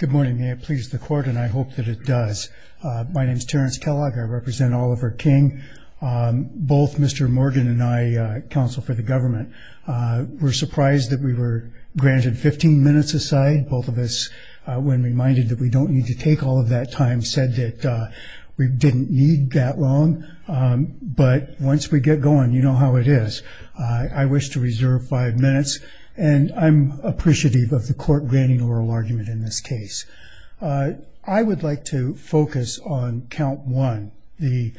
Good morning. May it please the court, and I hope that it does. My name is Terrence Kellogg. I represent Oliver King. Both Mr. Morgan and I, counsel for the government, were surprised that we were granted 15 minutes aside. Both of us, when reminded that we don't need to take all of that time, said that we didn't need that long. But once we get going, you know how it is. I wish to reserve five minutes. And I'm appreciative of the court granting oral argument in this case. I would like to focus on count one, the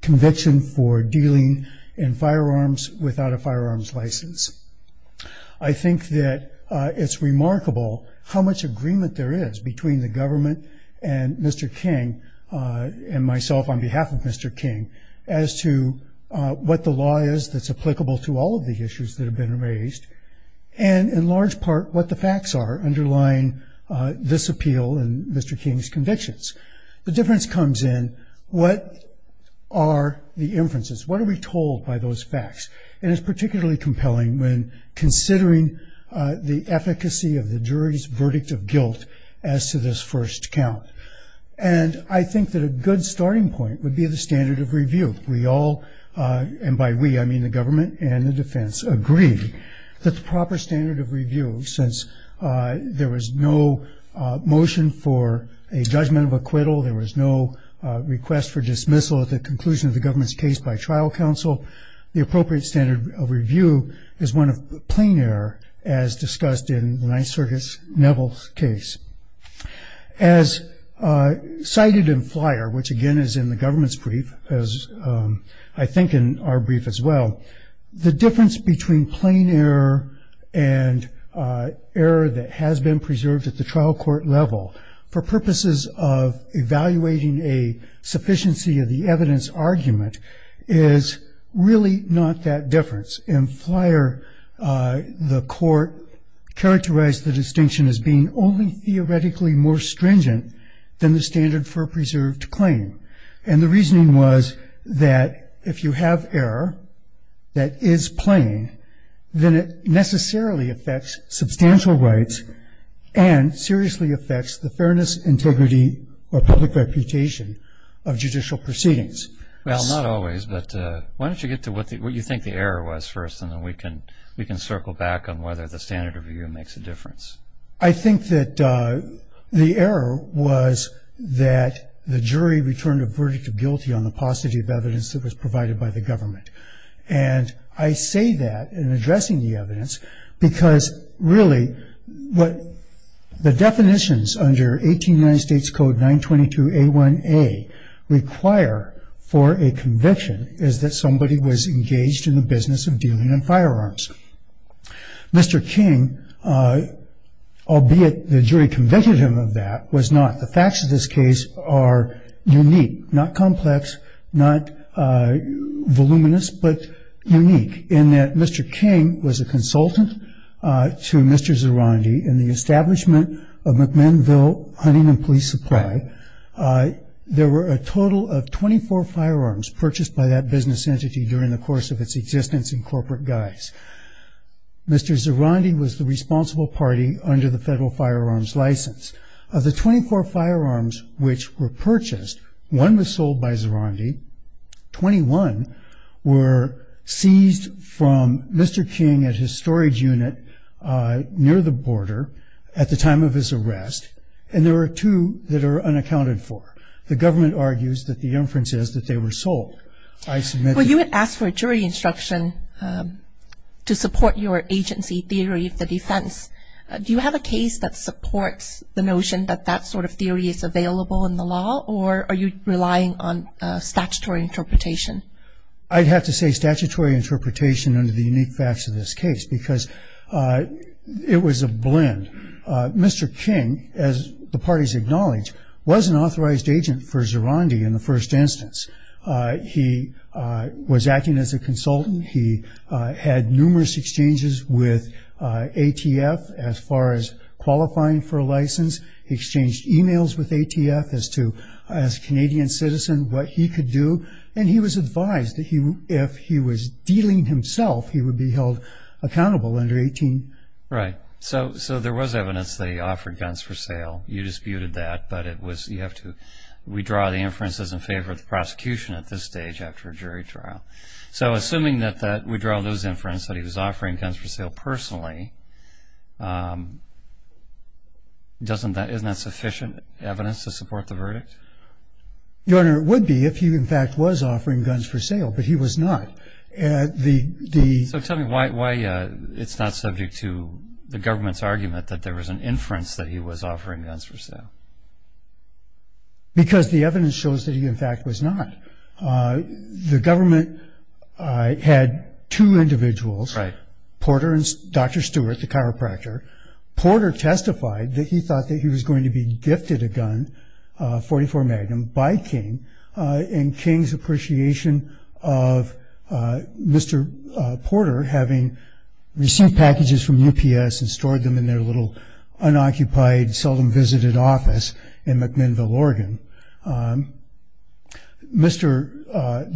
conviction for dealing in firearms without a firearms license. I think that it's remarkable how much agreement there is between the government and Mr. King and myself on behalf of Mr. King as to what the law is that's applicable to all of the issues that have been raised, and in large part what the facts are underlying this appeal and Mr. King's convictions. The difference comes in what are the inferences? What are we told by those facts? And it's particularly compelling when considering the efficacy of the jury's verdict of guilt as to this first count. And I think that a good starting point would be the standard of review. We all, and by we I mean the government and the defense, agree that the proper standard of review, since there was no motion for a judgment of acquittal, there was no request for dismissal at the conclusion of the government's case by trial counsel, the appropriate standard of review is one of plain error as discussed in the Ninth Circuit's Neville case. As cited in Flyer, which again is in the government's brief, as I think in our brief as well, the difference between plain error and error that has been preserved at the trial court level for purposes of evaluating a sufficiency of the evidence argument is really not that difference. In Flyer, the court characterized the distinction as being only theoretically more stringent than the standard for a preserved claim. And the reasoning was that if you have error that is plain, then it necessarily affects substantial rights and seriously affects the fairness, integrity, or public reputation of judicial proceedings. Well, not always, but why don't you get to what you think the error was first, and then we can circle back on whether the standard of review makes a difference. I think that the error was that the jury returned a verdict of guilty on the paucity of evidence that was provided by the government. And I say that in addressing the evidence because, really, what the definitions under 18 United States Code 922A1A require for a conviction is that somebody was engaged in the business of dealing in firearms. Mr. King, albeit the jury convicted him of that, was not. The facts of this case are unique, not complex, not voluminous, but unique, in that Mr. King was a consultant to Mr. Zirondi in the establishment of McMinnville Huntington Police Supply. There were a total of 24 firearms purchased by that business entity during the course of its existence in corporate guise. Mr. Zirondi was the responsible party under the federal firearms license. Of the 24 firearms which were purchased, one was sold by Zirondi. Twenty-one were seized from Mr. King at his storage unit near the border at the time of his arrest, and there were two that are unaccounted for. The government argues that the inference is that they were sold. Well, you had asked for a jury instruction to support your agency theory of the defense. Do you have a case that supports the notion that that sort of theory is available in the law, or are you relying on statutory interpretation? I'd have to say statutory interpretation under the unique facts of this case because it was a blend. Mr. King, as the parties acknowledged, was an authorized agent for Zirondi in the first instance. He was acting as a consultant. He had numerous exchanges with ATF as far as qualifying for a license. He exchanged emails with ATF as to, as a Canadian citizen, what he could do, and he was advised that if he was dealing himself, he would be held accountable under 18. Right. So there was evidence that he offered guns for sale. You disputed that, but we draw the inferences in favor of the prosecution at this stage after a jury trial. So assuming that we draw those inferences that he was offering guns for sale personally, isn't that sufficient evidence to support the verdict? Your Honor, it would be if he in fact was offering guns for sale, but he was not. So tell me why it's not subject to the government's argument that there was an inference that he was offering guns for sale. Because the evidence shows that he in fact was not. The government had two individuals, Porter and Dr. Stewart, the chiropractor. Porter testified that he thought that he was going to be gifted a gun, a .44 Magnum, by King, and King's appreciation of Mr. Porter having received packages from UPS and stored them in their little unoccupied, seldom-visited office in McMinnville, Oregon. The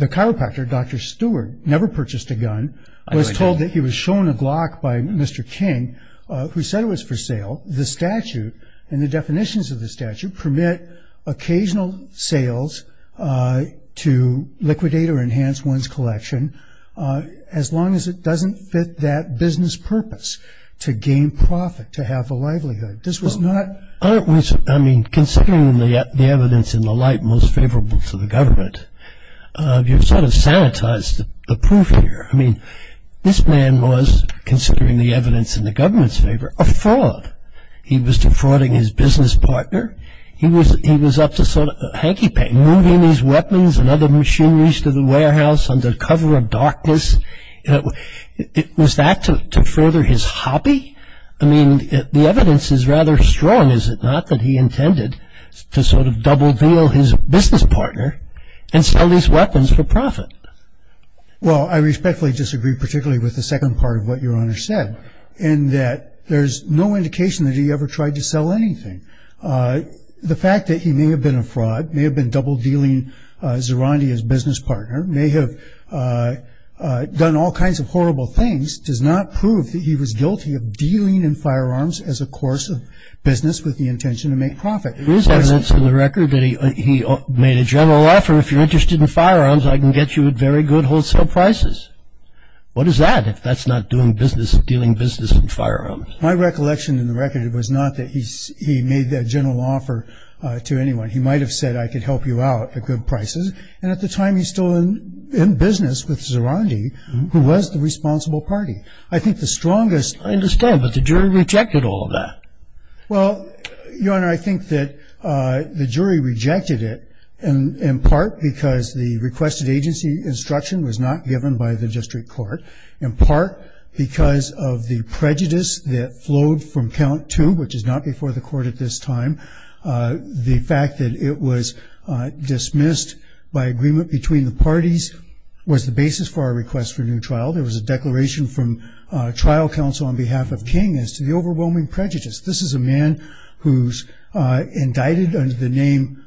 chiropractor, Dr. Stewart, never purchased a gun, was told that he was shown a Glock by Mr. King, who said it was for sale. The statute and the definitions of the statute permit occasional sales to liquidate or enhance one's collection, as long as it doesn't fit that business purpose, to gain profit, to have a livelihood. I mean, considering the evidence in the light most favorable to the government, you've sort of sanitized the proof here. I mean, this man was, considering the evidence in the government's favor, a fraud. He was defrauding his business partner. He was up to sort of hanky-panky, moving these weapons and other machineries to the warehouse under cover of darkness. Was that to further his hobby? I mean, the evidence is rather strong, is it not, that he intended to sort of double-deal his business partner and sell these weapons for profit? Well, I respectfully disagree, particularly with the second part of what Your Honor said, in that there's no indication that he ever tried to sell anything. The fact that he may have been a fraud, may have been double-dealing Zirondi, his business partner, may have done all kinds of horrible things, does not prove that he was guilty of dealing in firearms as a course of business with the intention to make profit. There is evidence in the record that he made a general offer, if you're interested in firearms, I can get you at very good wholesale prices. What is that, if that's not doing business, dealing business in firearms? My recollection in the record was not that he made that general offer to anyone. He might have said, I could help you out at good prices. And at the time, he's still in business with Zirondi, who was the responsible party. I think the strongest- I understand, but the jury rejected all of that. Well, Your Honor, I think that the jury rejected it, in part because the requested agency instruction was not given by the district court, in part because of the prejudice that flowed from count two, which is not before the court at this time, the fact that it was dismissed by agreement between the parties was the basis for our request for a new trial. There was a declaration from trial counsel on behalf of King as to the overwhelming prejudice. This is a man who's indicted under the name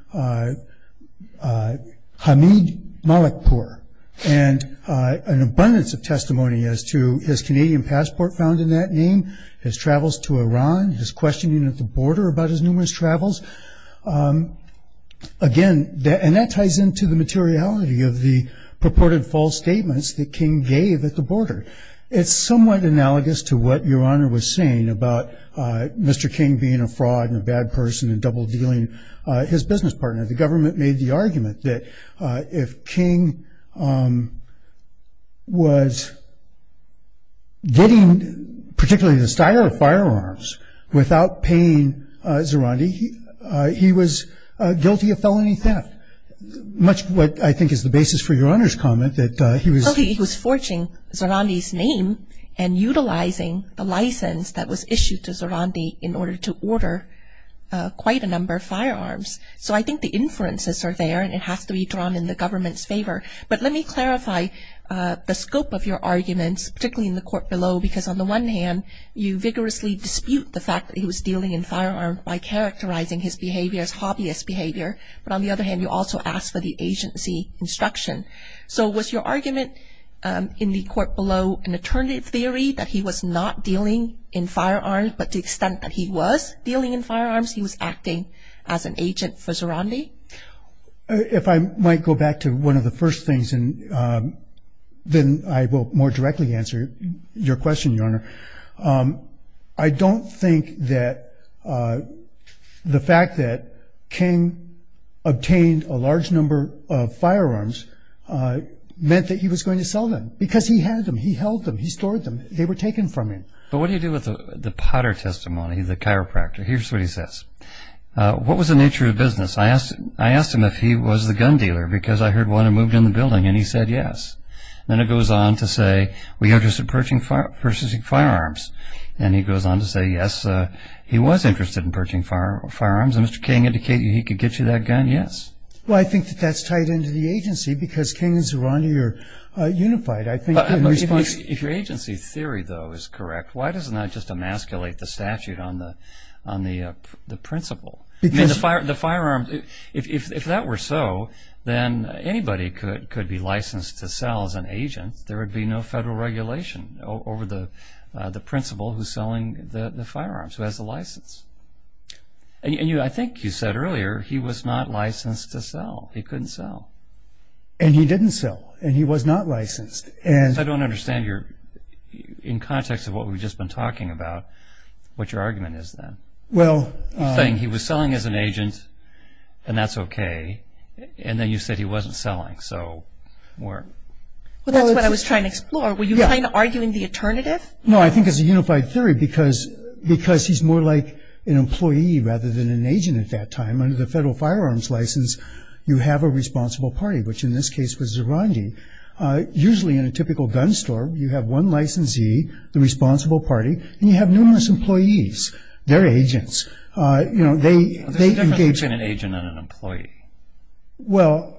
Hamid Malikpour, and an abundance of testimony as to his Canadian passport found in that name, his travels to Iran, his questioning at the border about his numerous travels. Again, and that ties into the materiality of the purported false statements that King gave at the border. It's somewhat analogous to what Your Honor was saying about Mr. King being a fraud and a bad person and double-dealing his business partner. The government made the argument that if King was getting particularly the style of firearms without paying Zarandi, he was guilty of felony theft, much what I think is the basis for Your Honor's comment that he was... So he was forging Zarandi's name and utilizing the license that was issued to Zarandi So I think the inferences are there, and it has to be drawn in the government's favor. But let me clarify the scope of your arguments, particularly in the court below, because on the one hand, you vigorously dispute the fact that he was dealing in firearms by characterizing his behavior as hobbyist behavior. But on the other hand, you also ask for the agency instruction. So was your argument in the court below an alternative theory that he was not dealing in firearms, but to the extent that he was dealing in firearms, he was acting as an agent for Zarandi? If I might go back to one of the first things, then I will more directly answer your question, Your Honor. I don't think that the fact that King obtained a large number of firearms meant that he was going to sell them, because he had them, he held them, he stored them. They were taken from him. But what do you do with the Potter testimony, the chiropractor? Here's what he says. What was the nature of the business? I asked him if he was the gun dealer, because I heard one had moved in the building, and he said yes. Then it goes on to say, we are interested in purchasing firearms. And he goes on to say, yes, he was interested in purchasing firearms, and Mr. King indicated he could get you that gun, yes. Well, I think that that's tied into the agency, because King and Zarandi are unified. If your agency theory, though, is correct, why doesn't that just emasculate the statute on the principal? I mean, the firearms, if that were so, then anybody could be licensed to sell as an agent. There would be no federal regulation over the principal who's selling the firearms, who has the license. And I think you said earlier he was not licensed to sell. He couldn't sell. And he didn't sell. And he was not licensed. I don't understand your, in context of what we've just been talking about, what your argument is then. You're saying he was selling as an agent, and that's okay. And then you said he wasn't selling. Well, that's what I was trying to explore. Were you kind of arguing the alternative? No, I think it's a unified theory, because he's more like an employee rather than an agent at that time. Under the Federal Firearms License, you have a responsible party, which in this case was Zarandi. Usually in a typical gun store, you have one licensee, the responsible party, and you have numerous employees. They're agents. They engage in an agent and an employee. Well,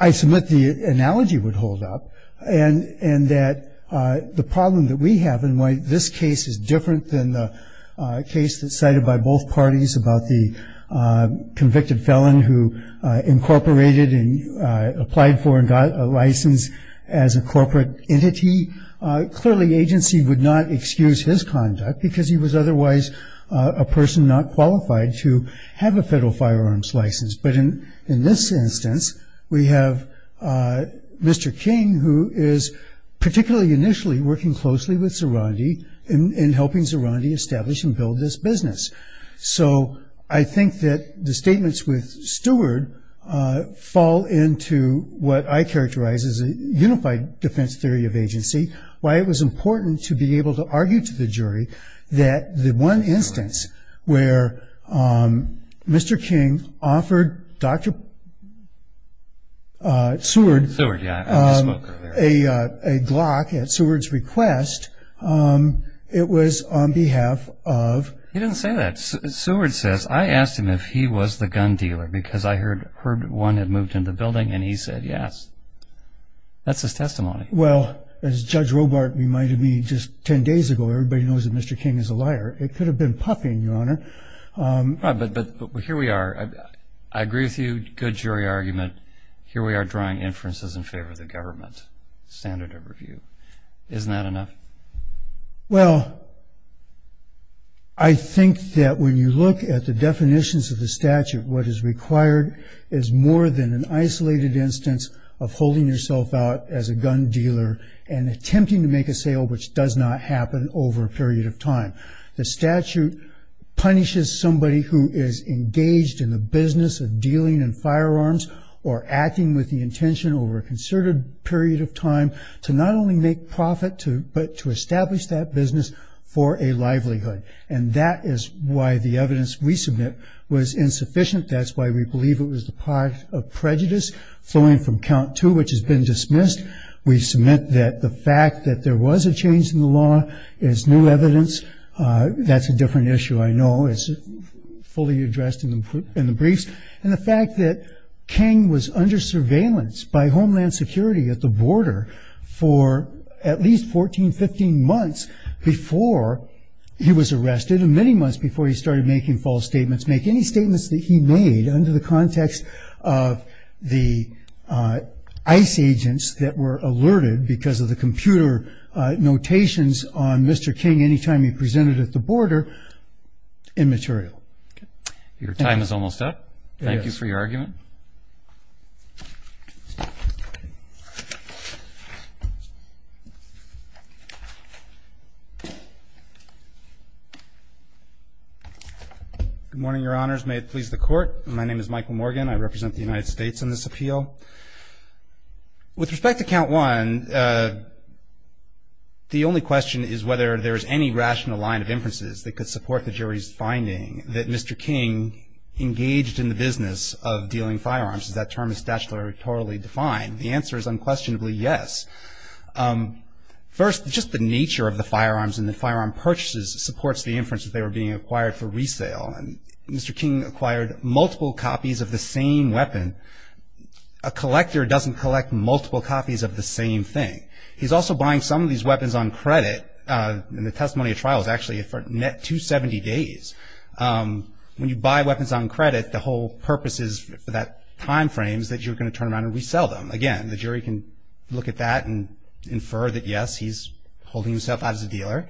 I submit the analogy would hold up, and that the problem that we have and why this case is different than the case that's cited by both parties about the convicted felon who incorporated and applied for and got a license as a corporate entity, clearly agency would not excuse his conduct because he was otherwise a person not qualified to have a Federal Firearms License. But in this instance, we have Mr. King, who is particularly initially working closely with Zarandi in helping Zarandi establish and build this business. So I think that the statements with Stewart fall into what I characterize as a unified defense theory of agency, why it was important to be able to argue to the jury that the one instance where Mr. King offered Dr. Seward a Glock at Seward's request, it was on behalf of... He didn't say that. Seward says, I asked him if he was the gun dealer because I heard one had moved into the building, and he said yes. That's his testimony. Well, as Judge Robart reminded me just 10 days ago, everybody knows that Mr. King is a liar. It could have been puffing, Your Honor. Right, but here we are. I agree with you, good jury argument. Here we are drawing inferences in favor of the government standard of review. Isn't that enough? Well, I think that when you look at the definitions of the statute, what is required is more than an isolated instance of holding yourself out as a gun dealer and attempting to make a sale which does not happen over a period of time. The statute punishes somebody who is engaged in the business of dealing in firearms or acting with the intention over a concerted period of time to not only make profit, but to establish that business for a livelihood. And that is why the evidence we submit was insufficient. That's why we believe it was the product of prejudice flowing from count two, which has been dismissed. We submit that the fact that there was a change in the law is new evidence. That's a different issue, I know, as fully addressed in the briefs. And the fact that King was under surveillance by Homeland Security at the border for at least 14, 15 months before he was arrested and many months before he started making false statements, make any statements that he made under the context of the ICE agents that were alerted because of the computer notations on Mr. King any time he presented at the border immaterial. Your time is almost up. Thank you for your argument. Good morning, Your Honors. May it please the Court. My name is Michael Morgan. I represent the United States in this appeal. With respect to count one, the only question is whether there is any rational line of inferences that could support the jury's finding that Mr. King engaged in the business of dealing with firearms because that term is statutorily defined. The answer is unquestionably yes. First, just the nature of the firearms and the firearm purchases supports the inference that they were being acquired for resale. And Mr. King acquired multiple copies of the same weapon. A collector doesn't collect multiple copies of the same thing. He's also buying some of these weapons on credit. And the testimony of trial is actually for a net 270 days. When you buy weapons on credit, the whole purpose is for that time frame is that you're going to turn around and resell them. Again, the jury can look at that and infer that, yes, he's holding himself out as a dealer.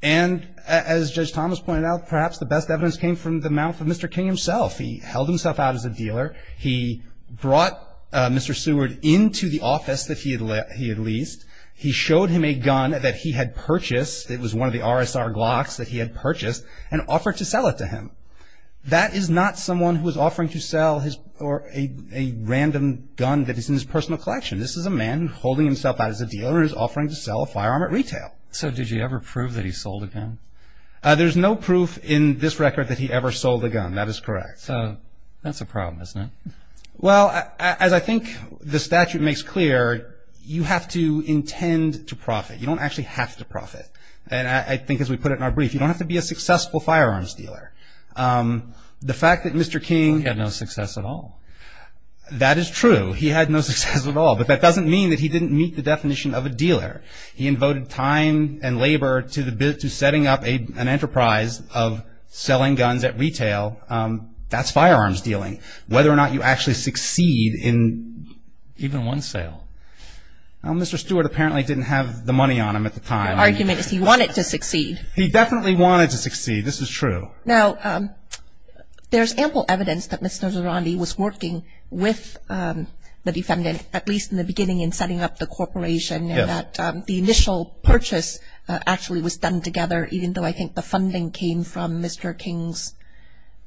And as Judge Thomas pointed out, perhaps the best evidence came from the mouth of Mr. King himself. He held himself out as a dealer. He brought Mr. Seward into the office that he had leased. He showed him a gun that he had purchased. It was one of the RSR Glocks that he had purchased and offered to sell it to him. That is not someone who is offering to sell a random gun that is in his personal collection. This is a man holding himself out as a dealer who is offering to sell a firearm at retail. So did you ever prove that he sold a gun? There's no proof in this record that he ever sold a gun. That is correct. So that's a problem, isn't it? Well, as I think the statute makes clear, you have to intend to profit. You don't actually have to profit. And I think as we put it in our brief, you don't have to be a successful firearms dealer. The fact that Mr. King- He had no success at all. That is true. He had no success at all. But that doesn't mean that he didn't meet the definition of a dealer. He invoted time and labor to setting up an enterprise of selling guns at retail. That's firearms dealing. Whether or not you actually succeed in- Even one sale. Mr. Stewart apparently didn't have the money on him at the time. The argument is he wanted to succeed. He definitely wanted to succeed. This is true. Now, there's ample evidence that Mr. Zarandi was working with the defendant, at least in the beginning in setting up the corporation, and that the initial purchase actually was done together, even though I think the funding came from Mr. King's-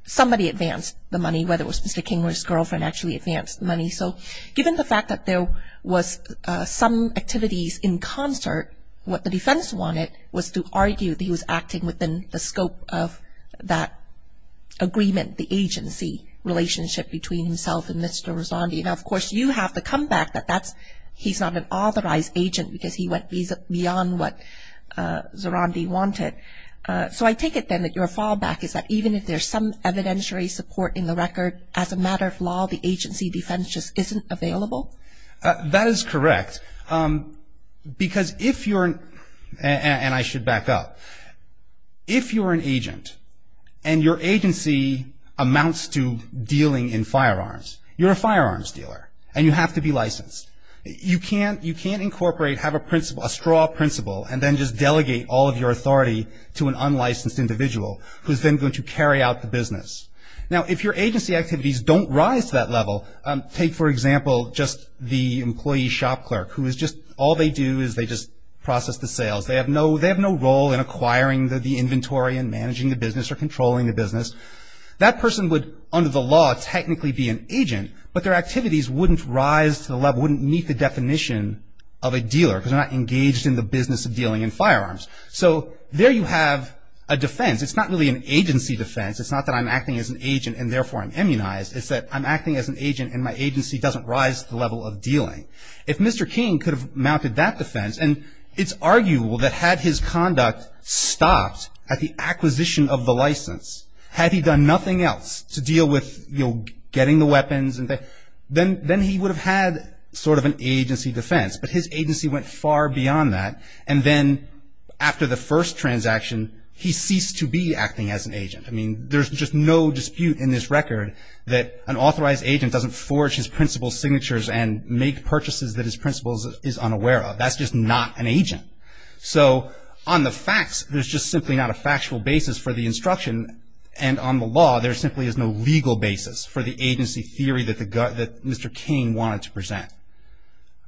somebody advanced the money, whether it was Mr. King or his girlfriend, actually advanced the money. So given the fact that there was some activities in concert, what the defense wanted was to argue that he was acting within the scope of that agreement, the agency relationship between himself and Mr. Zarandi. Now, of course, you have to come back that he's not an authorized agent because he went beyond what Zarandi wanted. So I take it then that your fallback is that even if there's some evidentiary support in the record, as a matter of law, the agency defense just isn't available? That is correct. Because if you're-and I should back up-if you're an agent and your agency amounts to dealing in firearms, you're a firearms dealer, and you have to be licensed. You can't incorporate, have a principle, a straw principle, and then just delegate all of your authority to an unlicensed individual who's then going to carry out the business. Now, if your agency activities don't rise to that level, take, for example, just the employee shop clerk, who is just-all they do is they just process the sales. They have no role in acquiring the inventory and managing the business or controlling the business. That person would, under the law, technically be an agent, but their activities wouldn't rise to the level, wouldn't meet the definition of a dealer because they're not engaged in the business of dealing in firearms. So there you have a defense. It's not really an agency defense. It's not that I'm acting as an agent and therefore I'm immunized. It's that I'm acting as an agent and my agency doesn't rise to the level of dealing. If Mr. King could have mounted that defense, and it's arguable that had his conduct stopped at the acquisition of the license, had he done nothing else to deal with, you know, getting the weapons, then he would have had sort of an agency defense. But his agency went far beyond that. I mean, there's just no dispute in this record that an authorized agent doesn't forge his principal's signatures and make purchases that his principal is unaware of. That's just not an agent. So on the facts, there's just simply not a factual basis for the instruction, and on the law there simply is no legal basis for the agency theory that Mr. King wanted to present.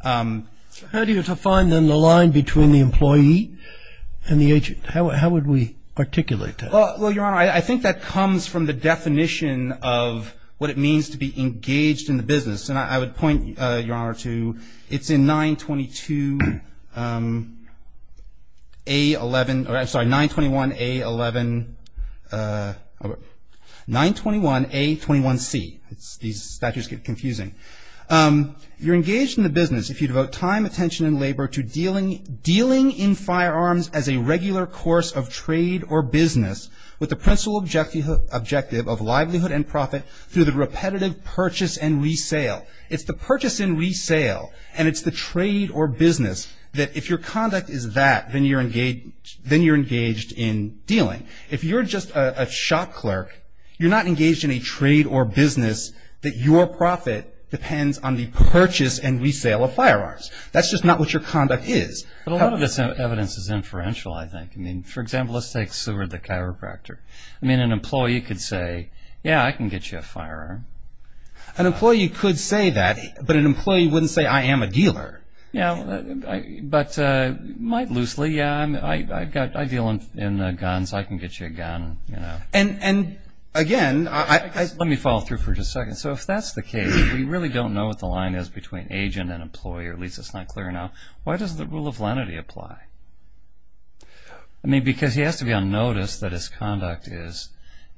How do you define, then, the line between the employee and the agent? How would we articulate that? Well, Your Honor, I think that comes from the definition of what it means to be engaged in the business. And I would point, Your Honor, to it's in 922A11, or I'm sorry, 921A11, 921A21C. These statutes get confusing. You're engaged in the business if you devote time, attention, and labor to dealing in firearms as a regular course of trade or business with the principal objective of livelihood and profit through the repetitive purchase and resale. It's the purchase and resale, and it's the trade or business, that if your conduct is that, then you're engaged in dealing. If you're just a shop clerk, you're not engaged in a trade or business that your profit depends on the purchase and resale of firearms. That's just not what your conduct is. But a lot of this evidence is inferential, I think. I mean, for example, let's take Seward the chiropractor. I mean, an employee could say, yeah, I can get you a firearm. An employee could say that, but an employee wouldn't say, I am a dealer. Yeah, but might loosely, yeah, I deal in guns. I can get you a gun, you know. And, again, let me follow through for just a second. So if that's the case, if we really don't know what the line is between agent and employer, at least it's not clear now, why does the rule of lenity apply? I mean, because he has to be on notice that his conduct is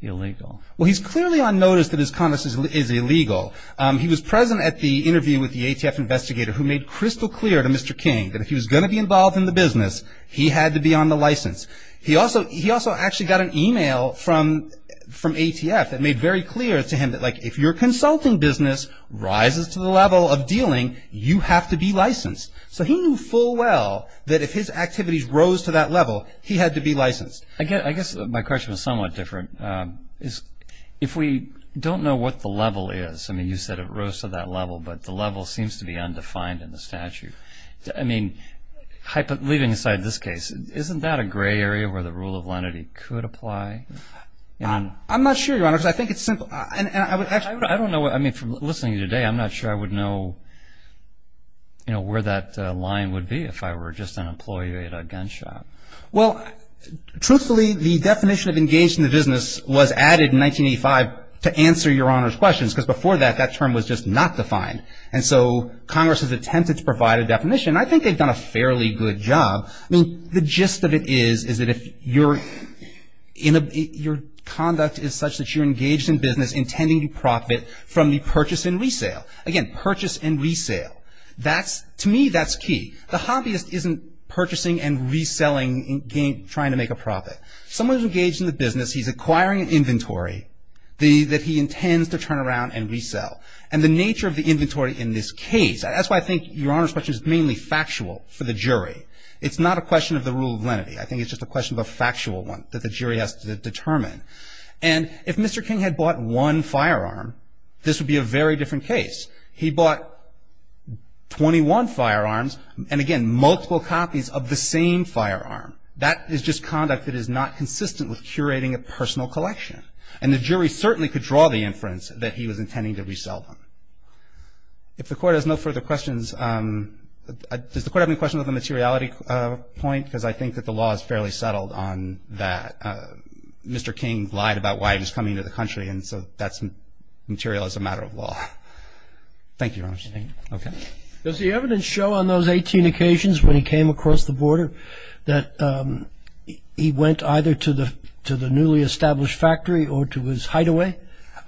illegal. Well, he's clearly on notice that his conduct is illegal. He was present at the interview with the ATF investigator who made crystal clear to Mr. King that if he was going to be involved in the business, he had to be on the license. He also actually got an email from ATF that made very clear to him that, like, if your consulting business rises to the level of dealing, you have to be licensed. So he knew full well that if his activities rose to that level, he had to be licensed. I guess my question was somewhat different. If we don't know what the level is, I mean, you said it rose to that level, but the level seems to be undefined in the statute. I mean, leaving aside this case, isn't that a gray area where the rule of lenity could apply? I'm not sure, Your Honor, because I think it's simple. Actually, I don't know. I mean, from listening to you today, I'm not sure I would know, you know, where that line would be if I were just an employee at a gun shop. Well, truthfully, the definition of engaged in the business was added in 1985 to answer Your Honor's questions because before that, that term was just not defined. And so Congress has attempted to provide a definition. I think they've done a fairly good job. I mean, the gist of it is, is that if your conduct is such that you're engaged in business, intending to profit from the purchase and resale. Again, purchase and resale. To me, that's key. The hobbyist isn't purchasing and reselling and trying to make a profit. Someone who's engaged in the business, he's acquiring inventory that he intends to turn around and resell. And the nature of the inventory in this case, that's why I think Your Honor's question is mainly factual for the jury. It's not a question of the rule of lenity. I think it's just a question of a factual one that the jury has to determine. And if Mr. King had bought one firearm, this would be a very different case. He bought 21 firearms and, again, multiple copies of the same firearm. That is just conduct that is not consistent with curating a personal collection. And the jury certainly could draw the inference that he was intending to resell them. If the Court has no further questions, does the Court have any questions on the materiality point? Because I think that the law is fairly settled on that. Mr. King lied about why he was coming into the country, and so that's material as a matter of law. Thank you, Your Honor. Thank you. Okay. Does the evidence show on those 18 occasions when he came across the border that he went either to the newly established factory or to his hideaway?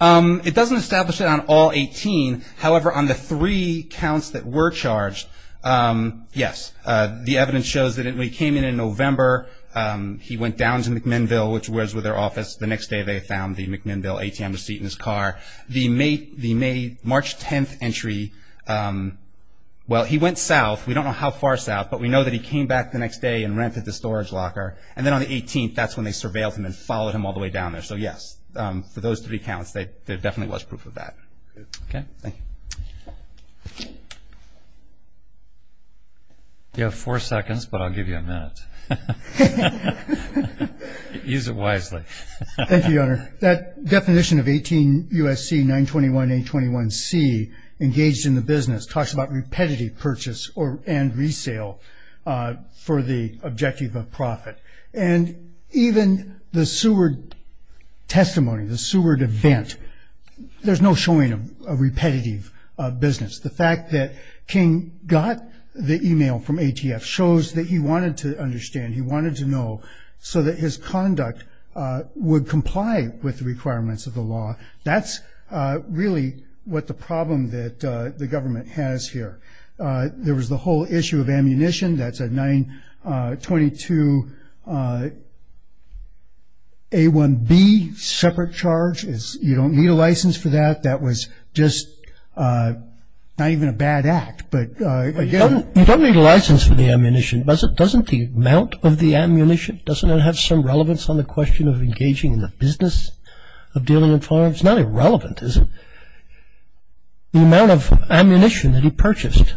It doesn't establish it on all 18. However, on the three counts that were charged, yes, the evidence shows that he came in in November. He went down to McMinnville, which was where their office was. The next day they found the McMinnville ATM receipt in his car. The May, March 10th entry, well, he went south. We don't know how far south, but we know that he came back the next day and rented the storage locker. And then on the 18th, that's when they surveilled him and followed him all the way down there. So, yes, for those three counts, there definitely was proof of that. Okay. Thank you. You have four seconds, but I'll give you a minute. Use it wisely. Thank you, Your Honor. That definition of 18 U.S.C. 921-821-C, engaged in the business, talks about repetitive purchase and resale for the objective of profit. And even the Seward testimony, the Seward event, there's no showing of repetitive business. The fact that King got the e-mail from ATF shows that he wanted to understand, he wanted to know so that his conduct would comply with the requirements of the law. That's really what the problem that the government has here. There was the whole issue of ammunition. That's a 922-A1B separate charge. You don't need a license for that. That was just not even a bad act. You don't need a license for the ammunition. Doesn't the amount of the ammunition, doesn't it have some relevance on the question of engaging in the business of dealing in firearms? It's not irrelevant, is it? The amount of ammunition that he purchased,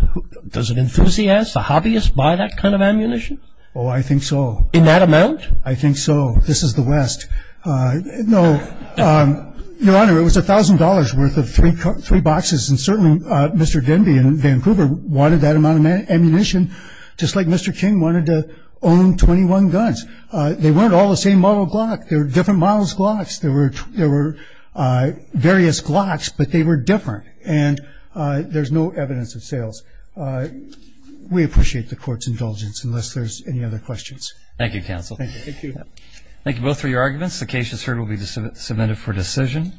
does an enthusiast, a hobbyist, buy that kind of ammunition? Oh, I think so. In that amount? I think so. This is the West. No. Your Honor, it was $1,000 worth of three boxes, and certainly Mr. Denby in Vancouver wanted that amount of ammunition, just like Mr. King wanted to own 21 guns. They weren't all the same model Glock. They were different models Glocks. There were various Glocks, but they were different, and there's no evidence of sales. We appreciate the Court's indulgence, unless there's any other questions. Thank you, counsel. Thank you. Thank you both for your arguments. The case is heard and will be submitted for decision.